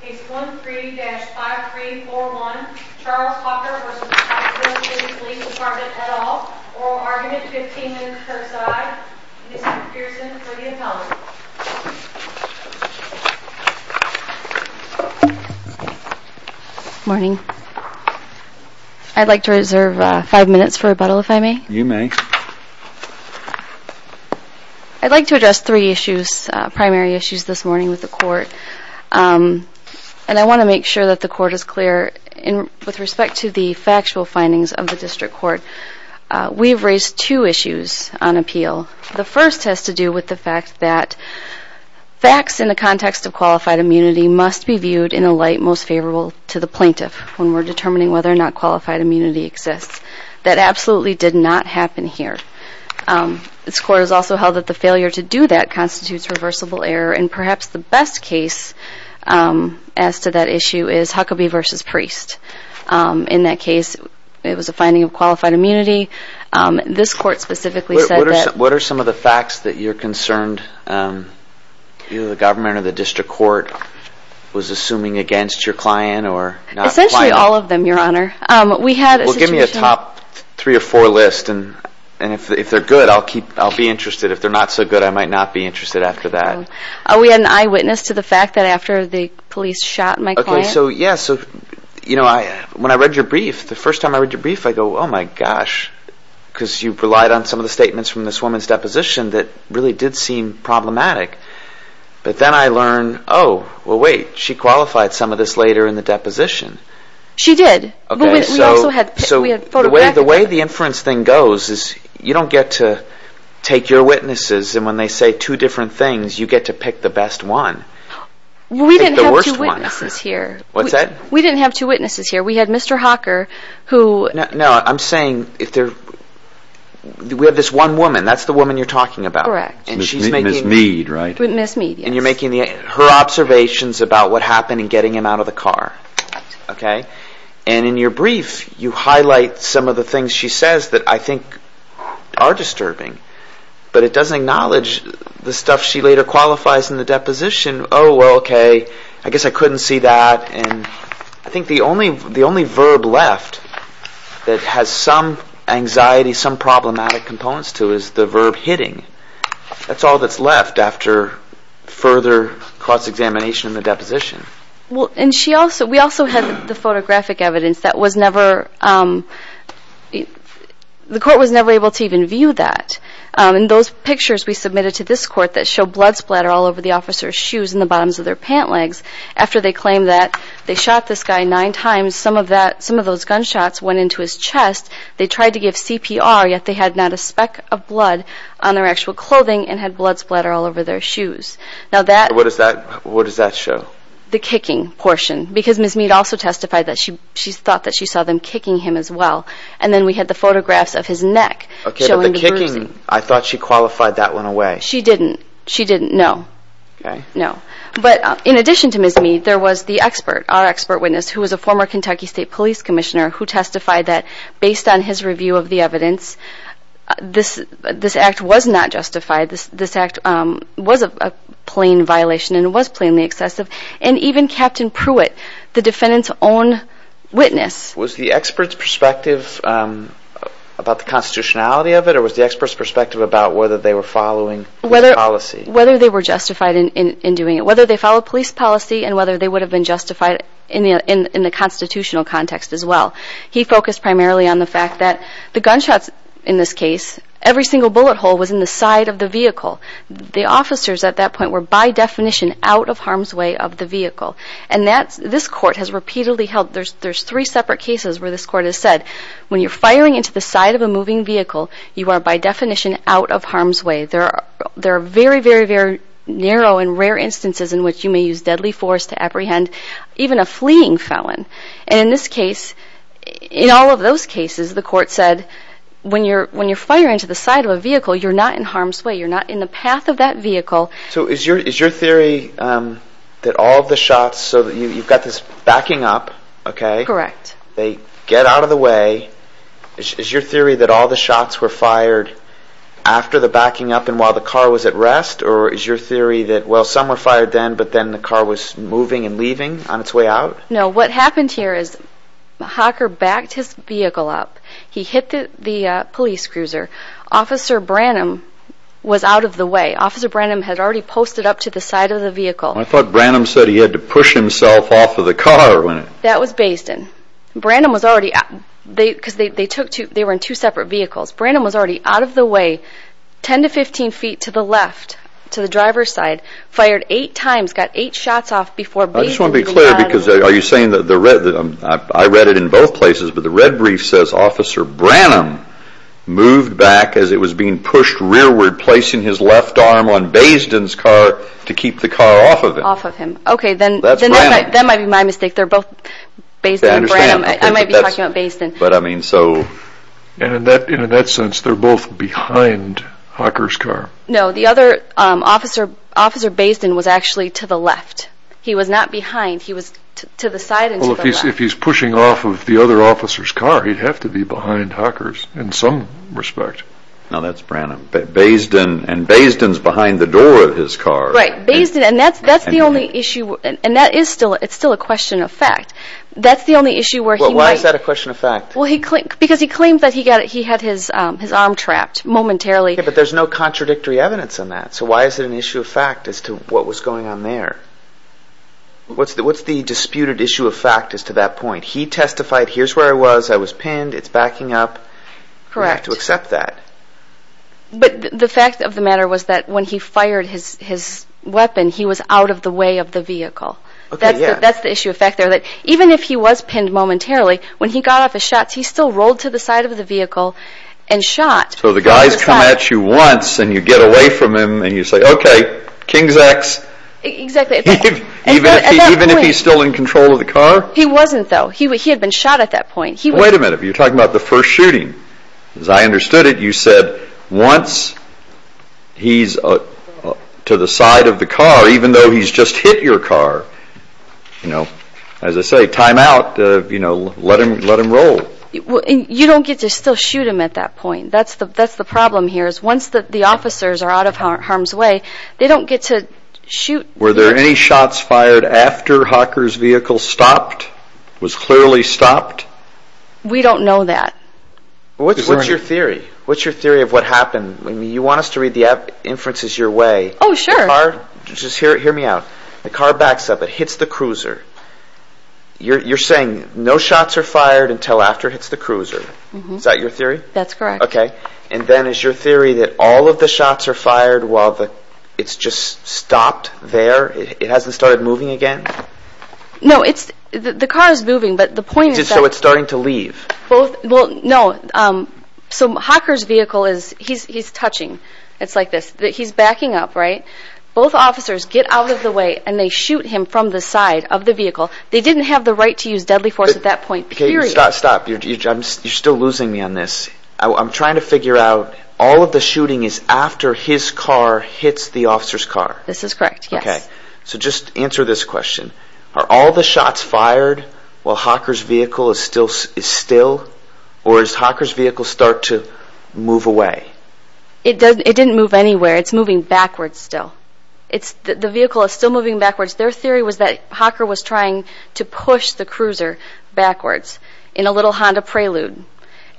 Case 13-5341, Charles Hocker v. Pikeville City Police Dept, et al, oral argument, 15 minutes per side, Mr. Pearson for the appellant. And I want to make sure that the court is clear with respect to the factual findings of the district court. We've raised two issues on appeal. The first has to do with the fact that facts in the context of qualified immunity must be viewed in a light most favorable to the plaintiff when we're determining whether or not qualified immunity exists. That absolutely did not happen here. This court has also held that the failure to do that constitutes reversible error. And perhaps the best case as to that issue is Huckabee v. Priest. In that case, it was a finding of qualified immunity. This court specifically said that... What are some of the facts that you're concerned the government or the district court was assuming against your client? Essentially all of them, Your Honor. Well, give me a top three or four list. And if they're good, I'll be interested. If they're not so good, I might not be interested after that. Are we an eyewitness to the fact that after the police shot my client? Okay, so yes. When I read your brief, the first time I read your brief, I go, oh my gosh. Because you relied on some of the statements from this woman's deposition that really did seem problematic. But then I learned, oh, well, wait, she qualified some of this later in the deposition. She did. Okay, so the way the inference thing goes is you don't get to take your witnesses, and when they say two different things, you get to pick the best one. Well, we didn't have two witnesses here. What's that? We didn't have two witnesses here. We had Mr. Hocker, who... No, I'm saying if there... We have this one woman. That's the woman you're talking about. Correct. And she's making... Ms. Mead, right? Ms. Mead, yes. And you're making her observations about what happened and getting him out of the car. Correct. Okay? And in your brief, you highlight some of the things she says that I think are disturbing. But it doesn't acknowledge the stuff she later qualifies in the deposition. Oh, well, okay, I guess I couldn't see that. And I think the only verb left that has some anxiety, some problematic components to it is the verb hitting. That's all that's left after further cross-examination in the deposition. Well, and she also... We also had the photographic evidence that was never... The court was never able to even view that. And those pictures we submitted to this court that show blood splatter all over the officer's shoes and the bottoms of their pant legs, after they claimed that they shot this guy nine times, some of those gunshots went into his chest. They tried to give CPR, yet they had not a speck of blood on their actual clothing and had blood splatter all over their shoes. Now that... What does that show? The kicking portion. Because Ms. Mead also testified that she thought that she saw them kicking him as well. And then we had the photographs of his neck showing the bruising. Okay, but the kicking, I thought she qualified that one away. She didn't. She didn't, no. Okay. No. But in addition to Ms. Mead, there was the expert, our expert witness, who was a former Kentucky State Police Commissioner, who testified that based on his review of the evidence, this act was not justified. This act was a plain violation and was plainly excessive. And even Captain Pruitt, the defendant's own witness... Was the expert's perspective about the constitutionality of it, or was the expert's perspective about whether they were following police policy? Whether they were justified in doing it. Whether they followed police policy and whether they would have been justified in the constitutional context as well. He focused primarily on the fact that the gunshots in this case, every single bullet hole was in the side of the vehicle. The officers at that point were by definition out of harm's way of the vehicle. And this court has repeatedly held... There's three separate cases where this court has said, when you're firing into the side of a moving vehicle, you are by definition out of harm's way. There are very, very, very narrow and rare instances in which you may use deadly force to apprehend even a fleeing felon. And in this case, in all of those cases, the court said, when you're firing into the side of a vehicle, you're not in harm's way. You're not in the path of that vehicle. So is your theory that all of the shots... So you've got this backing up, okay? Correct. They get out of the way. Is your theory that all the shots were fired after the backing up and while the car was at rest? Or is your theory that, well, some were fired then, but then the car was moving and leaving on its way out? No. What happened here is Hocker backed his vehicle up. He hit the police cruiser. Officer Branham was out of the way. Officer Branham had already posted up to the side of the vehicle. I thought Branham said he had to push himself off of the car. That was Bayston. Because they were in two separate vehicles. Branham was already out of the way, 10 to 15 feet to the left, to the driver's side, fired eight times, got eight shots off before Bayston... I just want to be clear, because are you saying that I read it in both places, but the red brief says Officer Branham moved back as it was being pushed rearward, placing his left arm on Bayston's car to keep the car off of him. Off of him. Okay, then that might be my mistake. They're both Bayston and Branham. I might be talking about Bayston. And in that sense, they're both behind Hocker's car. No, Officer Bayston was actually to the left. He was not behind. He was to the side and to the left. Well, if he's pushing off of the other officer's car, he'd have to be behind Hocker's in some respect. No, that's Branham. And Bayston's behind the door of his car. Right, and that's the only issue. And that is still a question of fact. Why is that a question of fact? Because he claimed that he had his arm trapped momentarily. Yeah, but there's no contradictory evidence on that. So why is it an issue of fact as to what was going on there? What's the disputed issue of fact as to that point? He testified, here's where I was. I was pinned. It's backing up. You have to accept that. But the fact of the matter was that when he fired his weapon, he was out of the way of the vehicle. That's the issue of fact there. Even if he was pinned momentarily, when he got off his shots, he still rolled to the side of the vehicle and shot. So the guys come at you once and you get away from them and you say, okay, King's X. Exactly. Even if he's still in control of the car? He wasn't, though. He had been shot at that point. Wait a minute. You're talking about the first shooting. As I understood it, you said once he's to the side of the car, even though he's just hit your car. As I say, time out. Let him roll. You don't get to still shoot him at that point. That's the problem here is once the officers are out of harm's way, they don't get to shoot. Were there any shots fired after Hawker's vehicle stopped, was clearly stopped? We don't know that. What's your theory? What's your theory of what happened? You want us to read the inferences your way. Oh, sure. Just hear me out. The car backs up. It hits the cruiser. You're saying no shots are fired until after it hits the cruiser. Is that your theory? That's correct. Okay. And then is your theory that all of the shots are fired while it's just stopped there? It hasn't started moving again? No, the car is moving, but the point is that. So it's starting to leave. No, Hawker's vehicle is touching. It's like this. He's backing up, right? Both officers get out of the way, and they shoot him from the side of the vehicle. They didn't have the right to use deadly force at that point, period. Stop. You're still losing me on this. I'm trying to figure out all of the shooting is after his car hits the officer's car. This is correct, yes. Okay. So just answer this question. Are all the shots fired while Hawker's vehicle is still, or does Hawker's vehicle start to move away? It didn't move anywhere. It's moving backwards still. The vehicle is still moving backwards. Their theory was that Hawker was trying to push the cruiser backwards in a little Honda Prelude,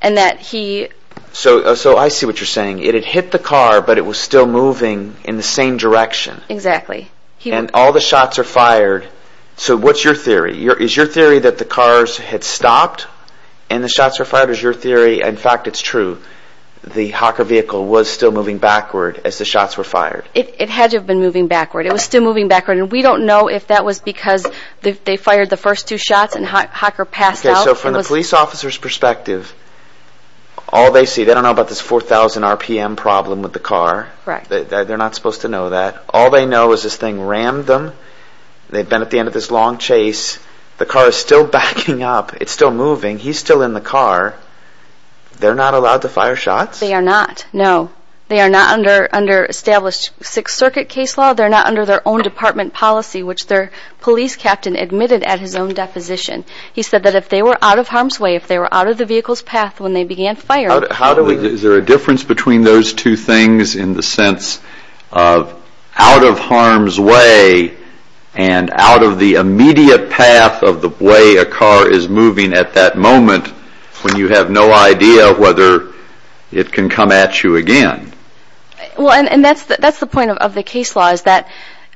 and that he... So I see what you're saying. It had hit the car, but it was still moving in the same direction. Exactly. And all the shots are fired. So what's your theory? Is your theory that the cars had stopped and the shots were fired, or is your theory, in fact, it's true, the Hawker vehicle was still moving backward as the shots were fired? It had to have been moving backward. It was still moving backward, and we don't know if that was because they fired the first two shots and Hawker passed out. Okay, so from the police officer's perspective, all they see... They don't know about this 4,000 rpm problem with the car. They're not supposed to know that. All they know is this thing rammed them. They've been at the end of this long chase. The car is still backing up. It's still moving. He's still in the car. They're not allowed to fire shots? They are not, no. They are not under established Sixth Circuit case law. They're not under their own department policy, which their police captain admitted at his own deposition. He said that if they were out of harm's way, if they were out of the vehicle's path when they began firing... If you're out of harm's way and out of the immediate path of the way a car is moving at that moment when you have no idea whether it can come at you again... Well, and that's the point of the case law is that...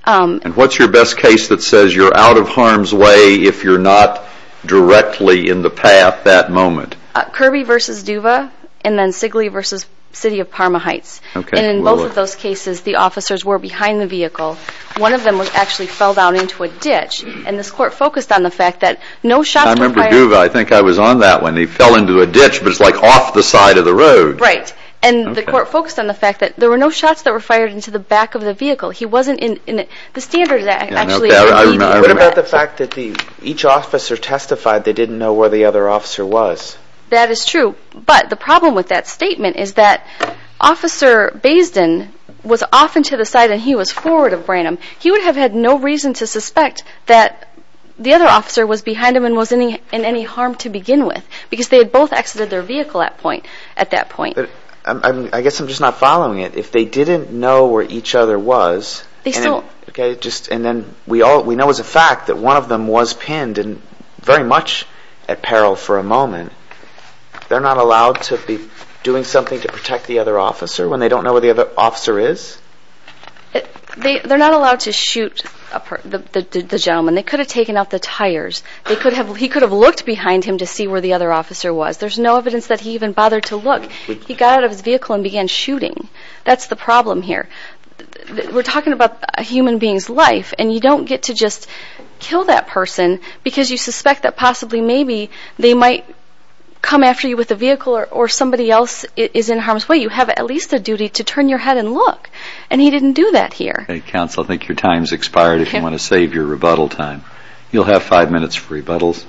And what's your best case that says you're out of harm's way if you're not directly in the path that moment? Kirby v. Duva and then Sigley v. City of Parma Heights. And in both of those cases, the officers were behind the vehicle. One of them actually fell down into a ditch. And this court focused on the fact that no shots were fired... I remember Duva. I think I was on that one. He fell into a ditch, but it's like off the side of the road. Right. And the court focused on the fact that there were no shots that were fired into the back of the vehicle. He wasn't in... The Standards Act actually... What about the fact that each officer testified they didn't know where the other officer was? That is true, but the problem with that statement is that Officer Basden was off into the side and he was forward of Branham. He would have had no reason to suspect that the other officer was behind him and was in any harm to begin with because they had both exited their vehicle at that point. I guess I'm just not following it. If they didn't know where each other was... They still... Okay, just... And then we know as a fact that one of them was pinned and very much at peril for a moment. They're not allowed to be doing something to protect the other officer when they don't know where the other officer is? They're not allowed to shoot the gentleman. They could have taken out the tires. He could have looked behind him to see where the other officer was. There's no evidence that he even bothered to look. He got out of his vehicle and began shooting. That's the problem here. We're talking about a human being's life, and you don't get to just kill that person because you suspect that possibly, maybe, they might come after you with a vehicle or somebody else is in harm's way. You have at least a duty to turn your head and look, and he didn't do that here. Okay, counsel, I think your time's expired if you want to save your rebuttal time. You'll have five minutes for rebuttals.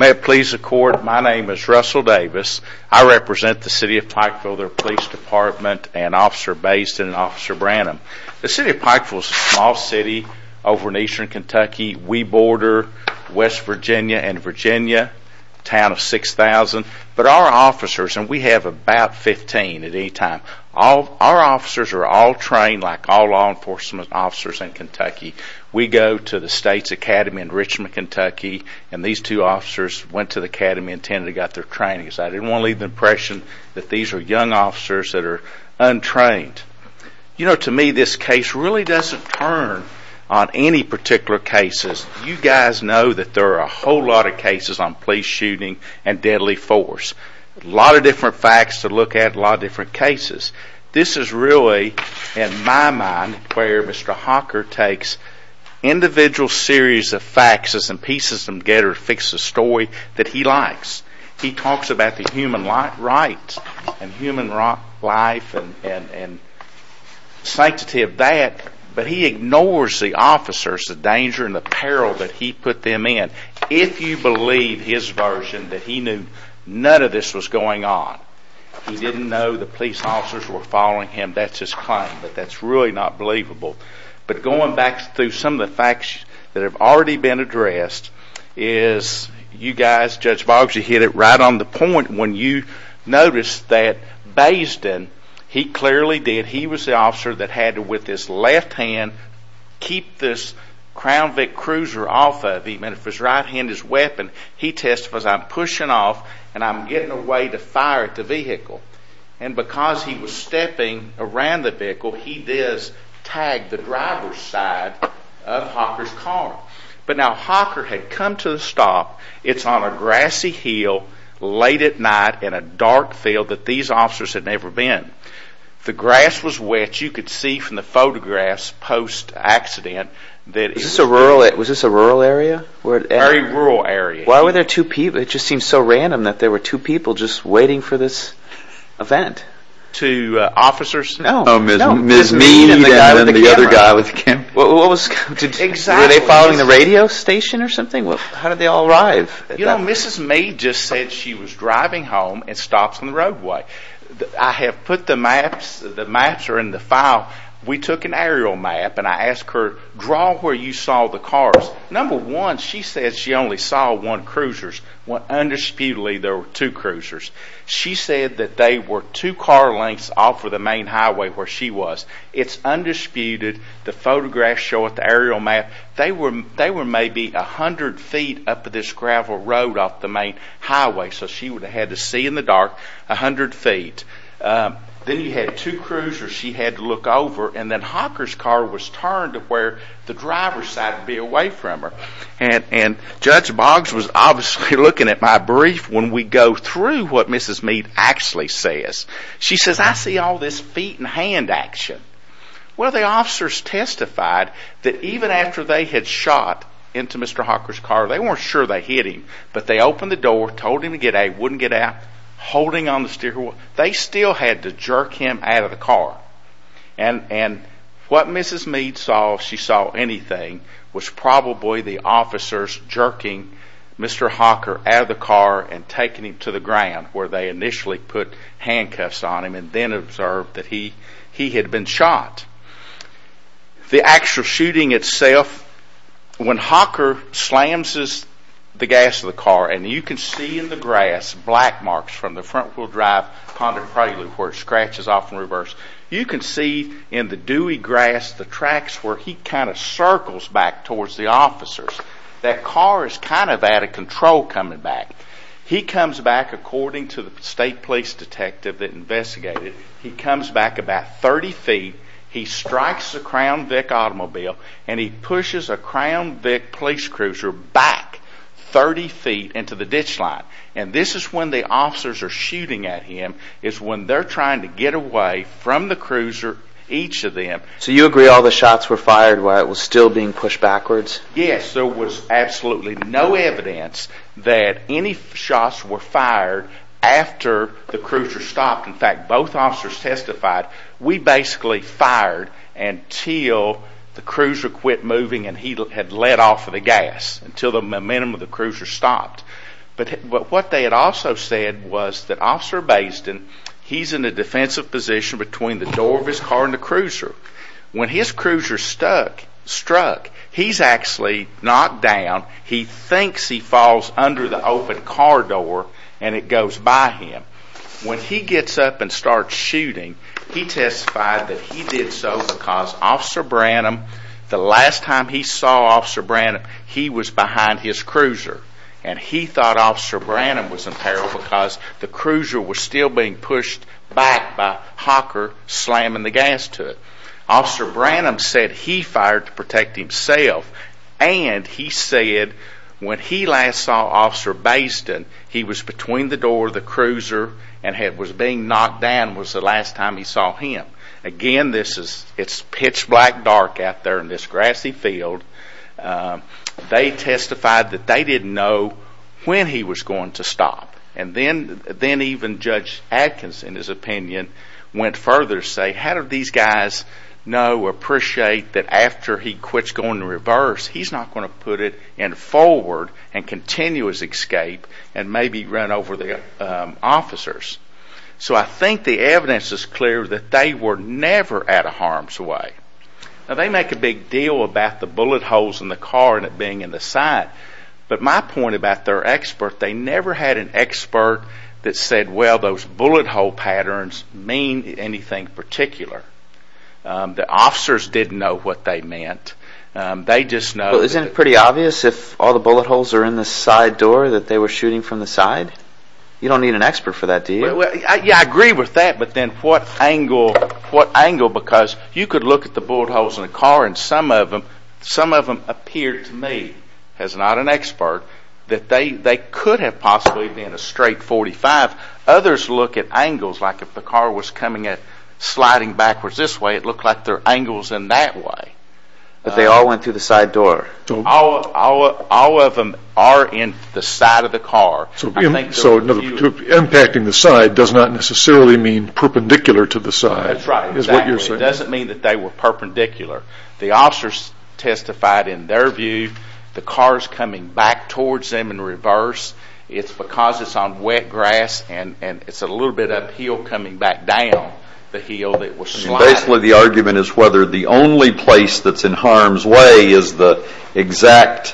May it please the Court, my name is Russell Davis. I represent the city of Pikeville. They're a police department, an officer base, and an officer brand. The city of Pikeville is a small city over in eastern Kentucky. We border West Virginia and Virginia, a town of 6,000. But our officers, and we have about 15 at any time, our officers are all trained like all law enforcement officers in Kentucky. We go to the State's Academy in Richmond, Kentucky, and these two officers went to the Academy and tended to get their trainings. I didn't want to leave the impression that these are young officers that are untrained. You know, to me, this case really doesn't turn on any particular cases. You guys know that there are a whole lot of cases on police shooting and deadly force. A lot of different facts to look at, a lot of different cases. This is really, in my mind, where Mr. Hawker takes individual series of facts and pieces of them together to fix the story that he likes. He talks about the human rights and human life and sanctity of that, but he ignores the officers, the danger and the peril that he put them in. If you believe his version that he knew none of this was going on, he didn't know the police officers were following him, that's his claim, but that's really not believable. But going back through some of the facts that have already been addressed is you guys, Judge Boggs, you hit it right on the point when you noticed that Bayston, he clearly did. He was the officer that had to, with his left hand, keep this Crown Vic cruiser off of him. And with his right hand, his weapon, he testified, I'm pushing off and I'm getting away to fire at the vehicle. And because he was stepping around the vehicle, he does tag the driver's side of Hawker's car. But now Hawker had come to a stop, it's on a grassy hill, late at night in a dark field that these officers had never been. The grass was wet, you could see from the photographs post-accident. Was this a rural area? Very rural area. Why were there two people? It just seems so random that there were two people just waiting for this event. Two officers? No, no, just me and the other guy with the camera. Were they following the radio station or something? How did they all arrive? Mrs. May just said she was driving home and stops on the roadway. I have put the maps, the maps are in the file. We took an aerial map and I asked her, draw where you saw the cars. Number one, she said she only saw one cruiser. Undisputedly, there were two cruisers. She said that they were two car lengths off of the main highway where she was. It's undisputed. The photographs show it, the aerial map. They were maybe 100 feet up this gravel road off the main highway, so she would have had to see in the dark 100 feet. Then you had two cruisers she had to look over, and then Hawker's car was turned to where the driver's side would be away from her. Judge Boggs was obviously looking at my brief when we go through what Mrs. Meade actually says. She says, I see all this feet and hand action. Well, the officers testified that even after they had shot into Mr. Hawker's car, they weren't sure they hit him, but they opened the door, told him to get out, wouldn't get out, holding on the steering wheel, they still had to jerk him out of the car. What Mrs. Meade saw, if she saw anything, was probably the officers jerking Mr. Hawker out of the car and taking him to the ground where they initially put handcuffs on him and then observed that he had been shot. The actual shooting itself, when Hawker slams the gas of the car, and you can see in the grass black marks from the front-wheel drive condor prelude where it scratches off in reverse. You can see in the dewy grass the tracks where he kind of circles back towards the officers. That car is kind of out of control coming back. He comes back, according to the state police detective that investigated, he comes back about 30 feet, he strikes the Crown Vic automobile, and he pushes a Crown Vic police cruiser back 30 feet into the ditch line. And this is when the officers are shooting at him, it's when they're trying to get away from the cruiser, each of them. So you agree all the shots were fired while it was still being pushed backwards? Yes, there was absolutely no evidence that any shots were fired after the cruiser stopped. In fact, both officers testified, we basically fired until the cruiser quit moving and he had let off of the gas, until the momentum of the cruiser stopped. But what they had also said was that Officer Basden, he's in a defensive position between the door of his car and the cruiser. When his cruiser struck, he's actually knocked down, he thinks he falls under the open car door and it goes by him. When he gets up and starts shooting, he testified that he did so because Officer Branham, the last time he saw Officer Branham, he was behind his cruiser. And he thought Officer Branham was in peril because the cruiser was still being pushed back by Hawker slamming the gas to it. Officer Branham said he fired to protect himself and he said when he last saw Officer Basden, he was between the door of the cruiser and was being knocked down was the last time he saw him. Again, it's pitch black dark out there in this grassy field. They testified that they didn't know when he was going to stop. And then even Judge Adkins, in his opinion, went further to say, how do these guys know or appreciate that after he quits going in reverse, he's not going to put it in forward and continuous escape and maybe run over the officers. So I think the evidence is clear that they were never out of harm's way. Now they make a big deal about the bullet holes in the car and it being in the side. But my point about their expert, they never had an expert that said, well, those bullet hole patterns mean anything particular. The officers didn't know what they meant. Isn't it pretty obvious if all the bullet holes are in the side door that they were shooting from the side? You don't need an expert for that, do you? I agree with that, but then what angle because you could look at the bullet holes in the car and some of them appear to me, as not an expert, that they could have possibly been a straight .45. Others look at angles, like if the car was sliding backwards this way, it looked like their angle was in that way. But they all went through the side door? All of them are in the side of the car. So impacting the side does not necessarily mean perpendicular to the side, is what you're saying? It doesn't mean that they were perpendicular. The officers testified in their view the car is coming back towards them in reverse. It's because it's on wet grass and it's a little bit uphill coming back down the hill that was sliding. Basically the argument is whether the only place that's in harm's way is the exact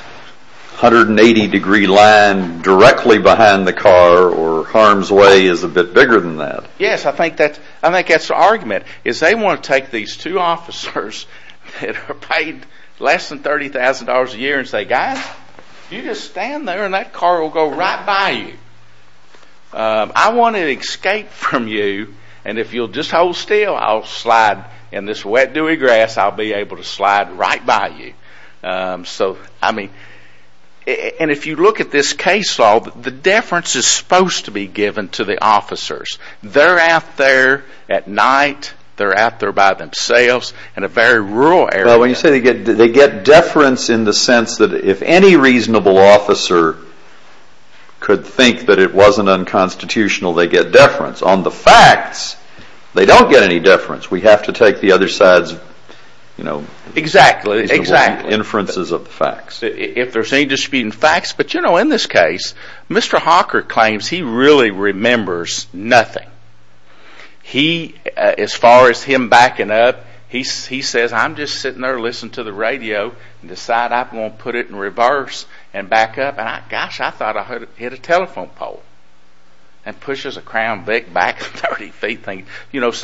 180 degree line directly behind the car or harm's way is a bit bigger than that. Yes, I think that's the argument. They want to take these two officers that are paid less than $30,000 a year and say, guys, you just stand there and that car will go right by you. I want to escape from you and if you'll just hold still, I'll slide in this wet, dewy grass, I'll be able to slide right by you. If you look at this case law, the deference is supposed to be given to the officers. They're out there at night, they're out there by themselves in a very rural area. When you say they get deference in the sense that if any reasonable officer could think that it wasn't unconstitutional, they get deference. On the facts, they don't get any deference. We have to take the other side's inferences of the facts. In this case, Mr. Hawker claims he really remembers nothing. As far as him backing up, he says, I'm just sitting there listening to the radio and decide I'm going to put it in reverse and back up. Gosh, I thought I hit a telephone pole and pushes a Crown Vic back 30 feet. Both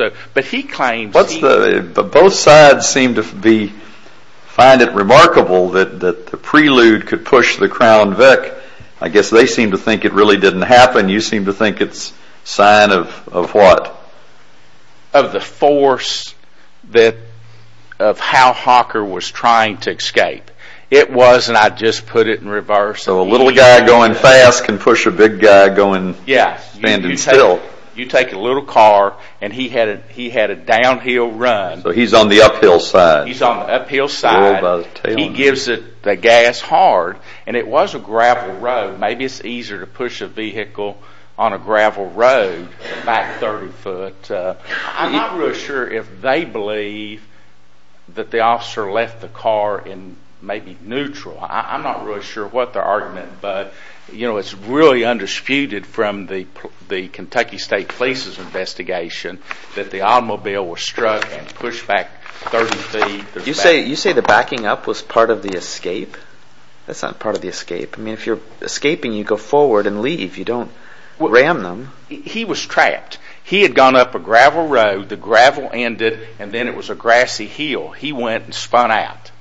sides seem to find it remarkable that the prelude could push the Crown Vic. I guess they seem to think it really didn't happen. You seem to think it's a sign of what? Of the force of how Hawker was trying to escape. It was, and I just put it in reverse. So a little guy going fast can push a big guy going standing still. You take a little car, and he had a downhill run. So he's on the uphill side. He's on the uphill side. He gives the gas hard, and it was a gravel road. Maybe it's easier to push a vehicle on a gravel road back 30 foot. I'm not really sure if they believe that the officer left the car in maybe neutral. I'm not really sure what their argument, but it's really undisputed from the Kentucky State Police's investigation that the automobile was struck and pushed back 30 feet. You say the backing up was part of the escape. That's not part of the escape. If you're escaping, you go forward and leave. You don't ram them. He was trapped. He had gone up a gravel road. The gravel ended, and then it was a grassy hill. He went and spun out.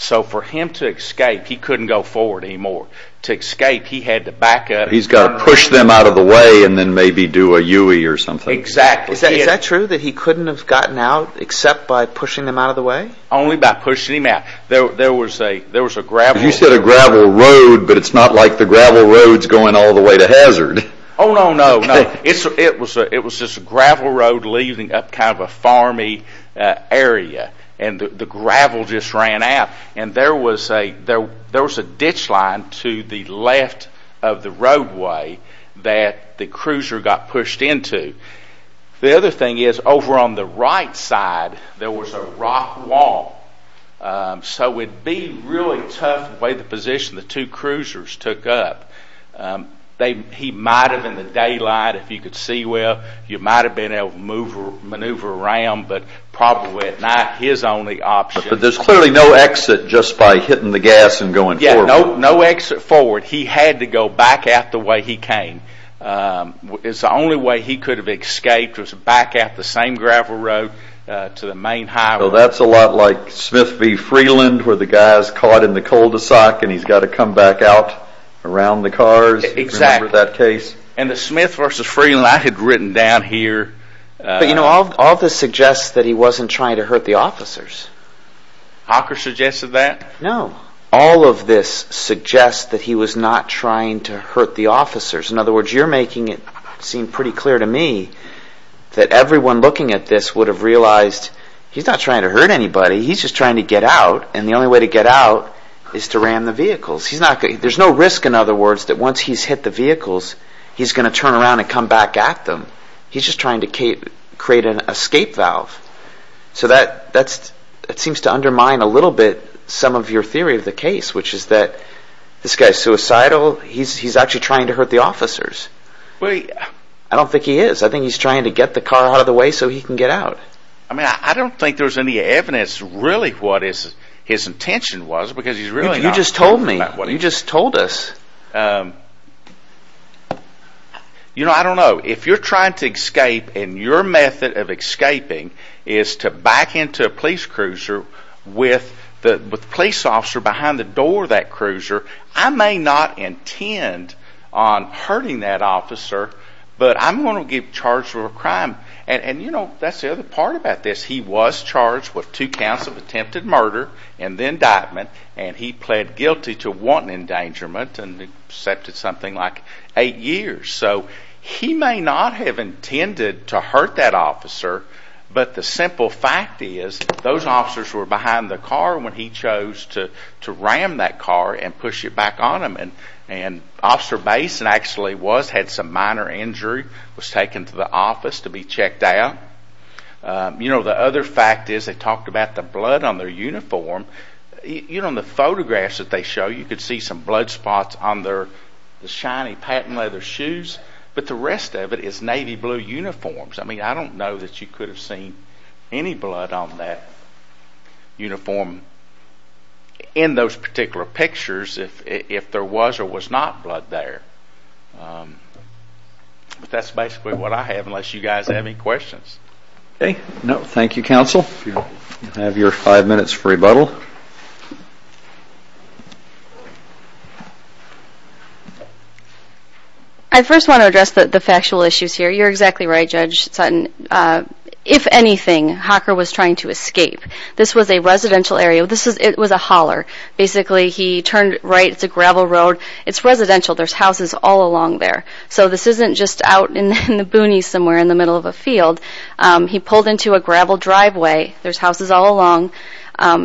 So for him to escape, he couldn't go forward anymore. To escape, he had to back up. He's got to push them out of the way and then maybe do a U-ey or something. Exactly. Is that true that he couldn't have gotten out except by pushing them out of the way? Only by pushing them out. There was a gravel road. You said a gravel road, but it's not like the gravel road is going all the way to hazard. Oh, no, no, no. It was just a gravel road leading up kind of a farmy area, and the gravel just ran out. There was a ditch line to the left of the roadway that the cruiser got pushed into. The other thing is, over on the right side, there was a rock wall. So it would be really tough the way the position the two cruisers took up. He might have, in the daylight, if you could see well, you might have been able to maneuver around, but probably at night, his only option. But there's clearly no exit just by hitting the gas and going forward. Yeah, no exit forward. He had to go back out the way he came. The only way he could have escaped was back out the same gravel road to the main highway. So that's a lot like Smith v. Freeland where the guy's caught in the cul-de-sac and he's got to come back out around the cars. Exactly. Remember that case? And the Smith v. Freeland I had written down here. But you know, all this suggests that he wasn't trying to hurt the officers. Hawker suggested that? No. All of this suggests that he was not trying to hurt the officers. In other words, you're making it seem pretty clear to me that everyone looking at this would have realized he's not trying to hurt anybody. He's just trying to get out, and the only way to get out is to ram the vehicles. There's no risk, in other words, that once he's hit the vehicles, he's going to turn around and come back at them. He's just trying to create an escape valve. So that seems to undermine a little bit some of your theory of the case, which is that this guy's suicidal, he's actually trying to hurt the officers. I don't think he is. I think he's trying to get the car out of the way so he can get out. I mean, I don't think there's any evidence really what his intention was. You just told me. You just told us. You know, I don't know. If you're trying to escape and your method of escaping is to back into a police cruiser with the police officer behind the door of that cruiser, I may not intend on hurting that officer, but I'm going to get charged with a crime. And, you know, that's the other part about this. He was charged with two counts of attempted murder and then indictment, and he pled guilty to one endangerment and accepted something like eight years. So he may not have intended to hurt that officer, but the simple fact is those officers were behind the car when he chose to ram that car and push it back on him. And Officer Basin actually was, had some minor injury, was taken to the office to be checked out. You know, the other fact is they talked about the blood on their uniform. You know, in the photographs that they show, you could see some blood spots on their shiny patent leather shoes, but the rest of it is navy blue uniforms. I mean, I don't know that you could have seen any blood on that uniform in those particular pictures if there was or was not blood there. But that's basically what I have, unless you guys have any questions. Okay. No, thank you, Counsel. You have your five minutes for rebuttal. I first want to address the factual issues here. You're exactly right, Judge Sutton. If anything, Hocker was trying to escape. This was a residential area. It was a holler. Basically, he turned right. It's a gravel road. It's residential. There's houses all along there. So this isn't just out in the boonies somewhere in the middle of a field. He pulled into a gravel driveway. There's houses all along.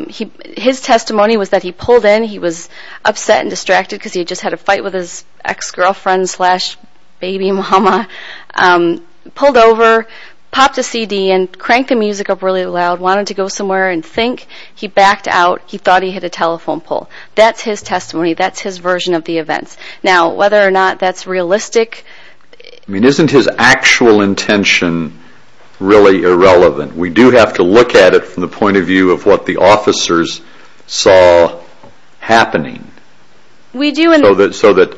His testimony was that he pulled in. He was upset and distracted because he just had a fight with his ex-girlfriend slash baby mama. Pulled over, popped a CD, and cranked the music up really loud, wanted to go somewhere and think. He backed out. He thought he hit a telephone pole. That's his testimony. That's his version of the events. Now, whether or not that's realistic. Isn't his actual intention really irrelevant? We do have to look at it from the point of view of what the officers saw happening. We do. So that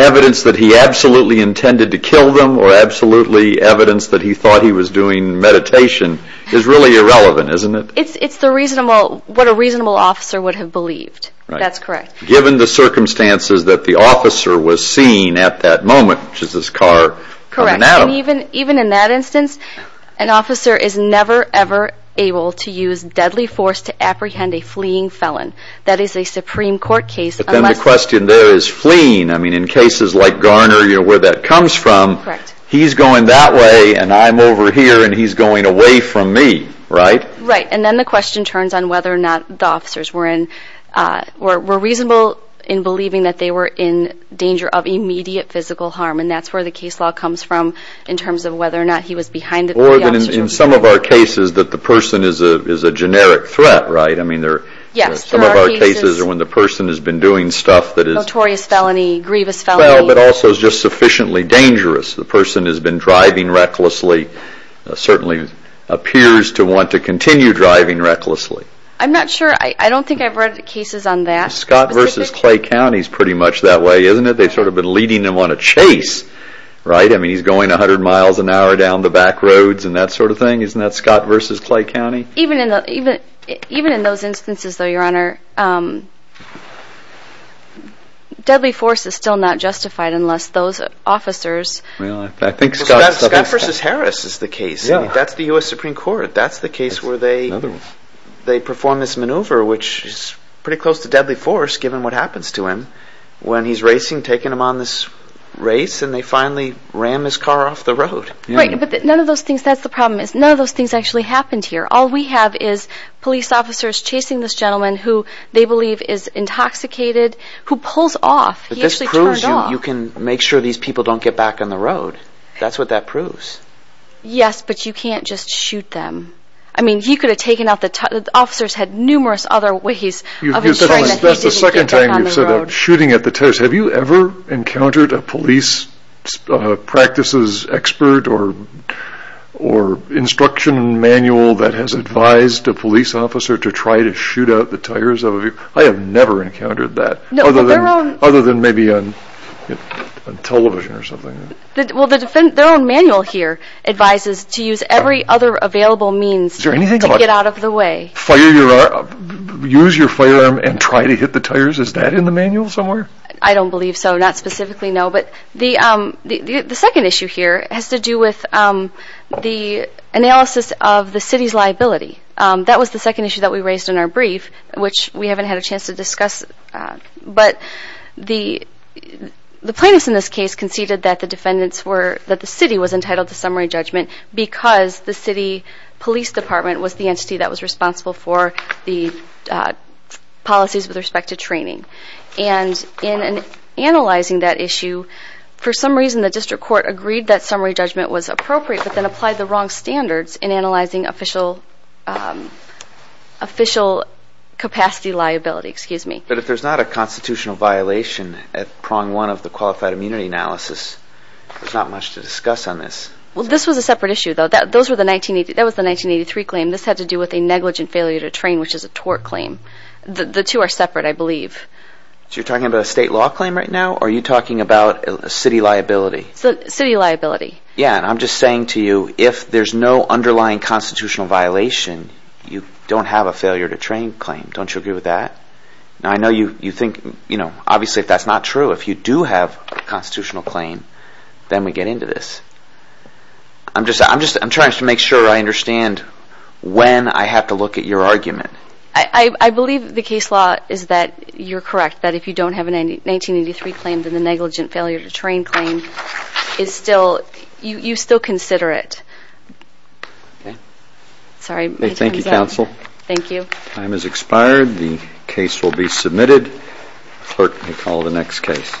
evidence that he absolutely intended to kill them or absolutely evidence that he thought he was doing meditation is really irrelevant, isn't it? It's what a reasonable officer would have believed. That's correct. Given the circumstances that the officer was seen at that moment, which is this car coming out. Correct. Even in that instance, an officer is never, ever able to use deadly force to apprehend a fleeing felon. That is a Supreme Court case. But then the question there is fleeing. I mean, in cases like Garner, where that comes from, he's going that way, and I'm over here, and he's going away from me, right? Right. And then the question turns on whether or not the officers were reasonable in believing that they were in danger of immediate physical harm, and that's where the case law comes from in terms of whether or not he was behind it. Or that in some of our cases that the person is a generic threat, right? Yes. Some of our cases are when the person has been doing stuff that is fell, but also is just sufficiently dangerous. The person has been driving recklessly, certainly appears to want to continue driving recklessly. I'm not sure. I don't think I've read cases on that. Scott v. Clay County is pretty much that way, isn't it? They've sort of been leading them on a chase, right? I mean, he's going 100 miles an hour down the back roads and that sort of thing. Isn't that Scott v. Clay County? Even in those instances, though, Your Honor, deadly force is still not justified unless those officers. Scott v. Harris is the case. That's the U.S. Supreme Court. That's the case where they perform this maneuver, which is pretty close to deadly force given what happens to him when he's racing, taking him on this race, and they finally ram his car off the road. Right, but none of those things, that's the problem, is none of those things actually happened here. All we have is police officers chasing this gentleman who they believe is intoxicated, who pulls off. But this proves you can make sure these people don't get back on the road. That's what that proves. Yes, but you can't just shoot them. I mean, he could have taken out the tires. The officers had numerous other ways of ensuring that he didn't get back on the road. That's the second time you've said that, shooting at the tires. Have you ever encountered a police practices expert or instruction manual that has advised a police officer to try to shoot out the tires of a vehicle? I have never encountered that. Other than maybe on television or something. Well, their own manual here advises to use every other available means to get out of the way. Use your firearm and try to hit the tires? Is that in the manual somewhere? I don't believe so, not specifically, no. But the second issue here has to do with the analysis of the city's liability. That was the second issue that we raised in our brief, which we haven't had a chance to discuss. But the plaintiffs in this case conceded that the city was entitled to summary judgment because the city police department was the entity that was responsible for the policies with respect to training. And in analyzing that issue, for some reason, the district court agreed that summary judgment was appropriate but then applied the wrong standards in analyzing official capacity liability. But if there's not a constitutional violation at prong one of the qualified immunity analysis, there's not much to discuss on this. Well, this was a separate issue, though. That was the 1983 claim. This had to do with a negligent failure to train, which is a tort claim. The two are separate, I believe. So you're talking about a state law claim right now, or are you talking about city liability? City liability. Yeah, and I'm just saying to you, if there's no underlying constitutional violation, you don't have a failure to train claim. Don't you agree with that? Now, I know you think, obviously, if that's not true, if you do have a constitutional claim, then we get into this. I'm just trying to make sure I understand when I have to look at your argument. I believe the case law is that you're correct, that if you don't have a 1983 claim, then the negligent failure to train claim, you still consider it. Okay. Sorry, my time's up. Thank you, counsel. Thank you. Time has expired. The case will be submitted. The clerk may call the next case.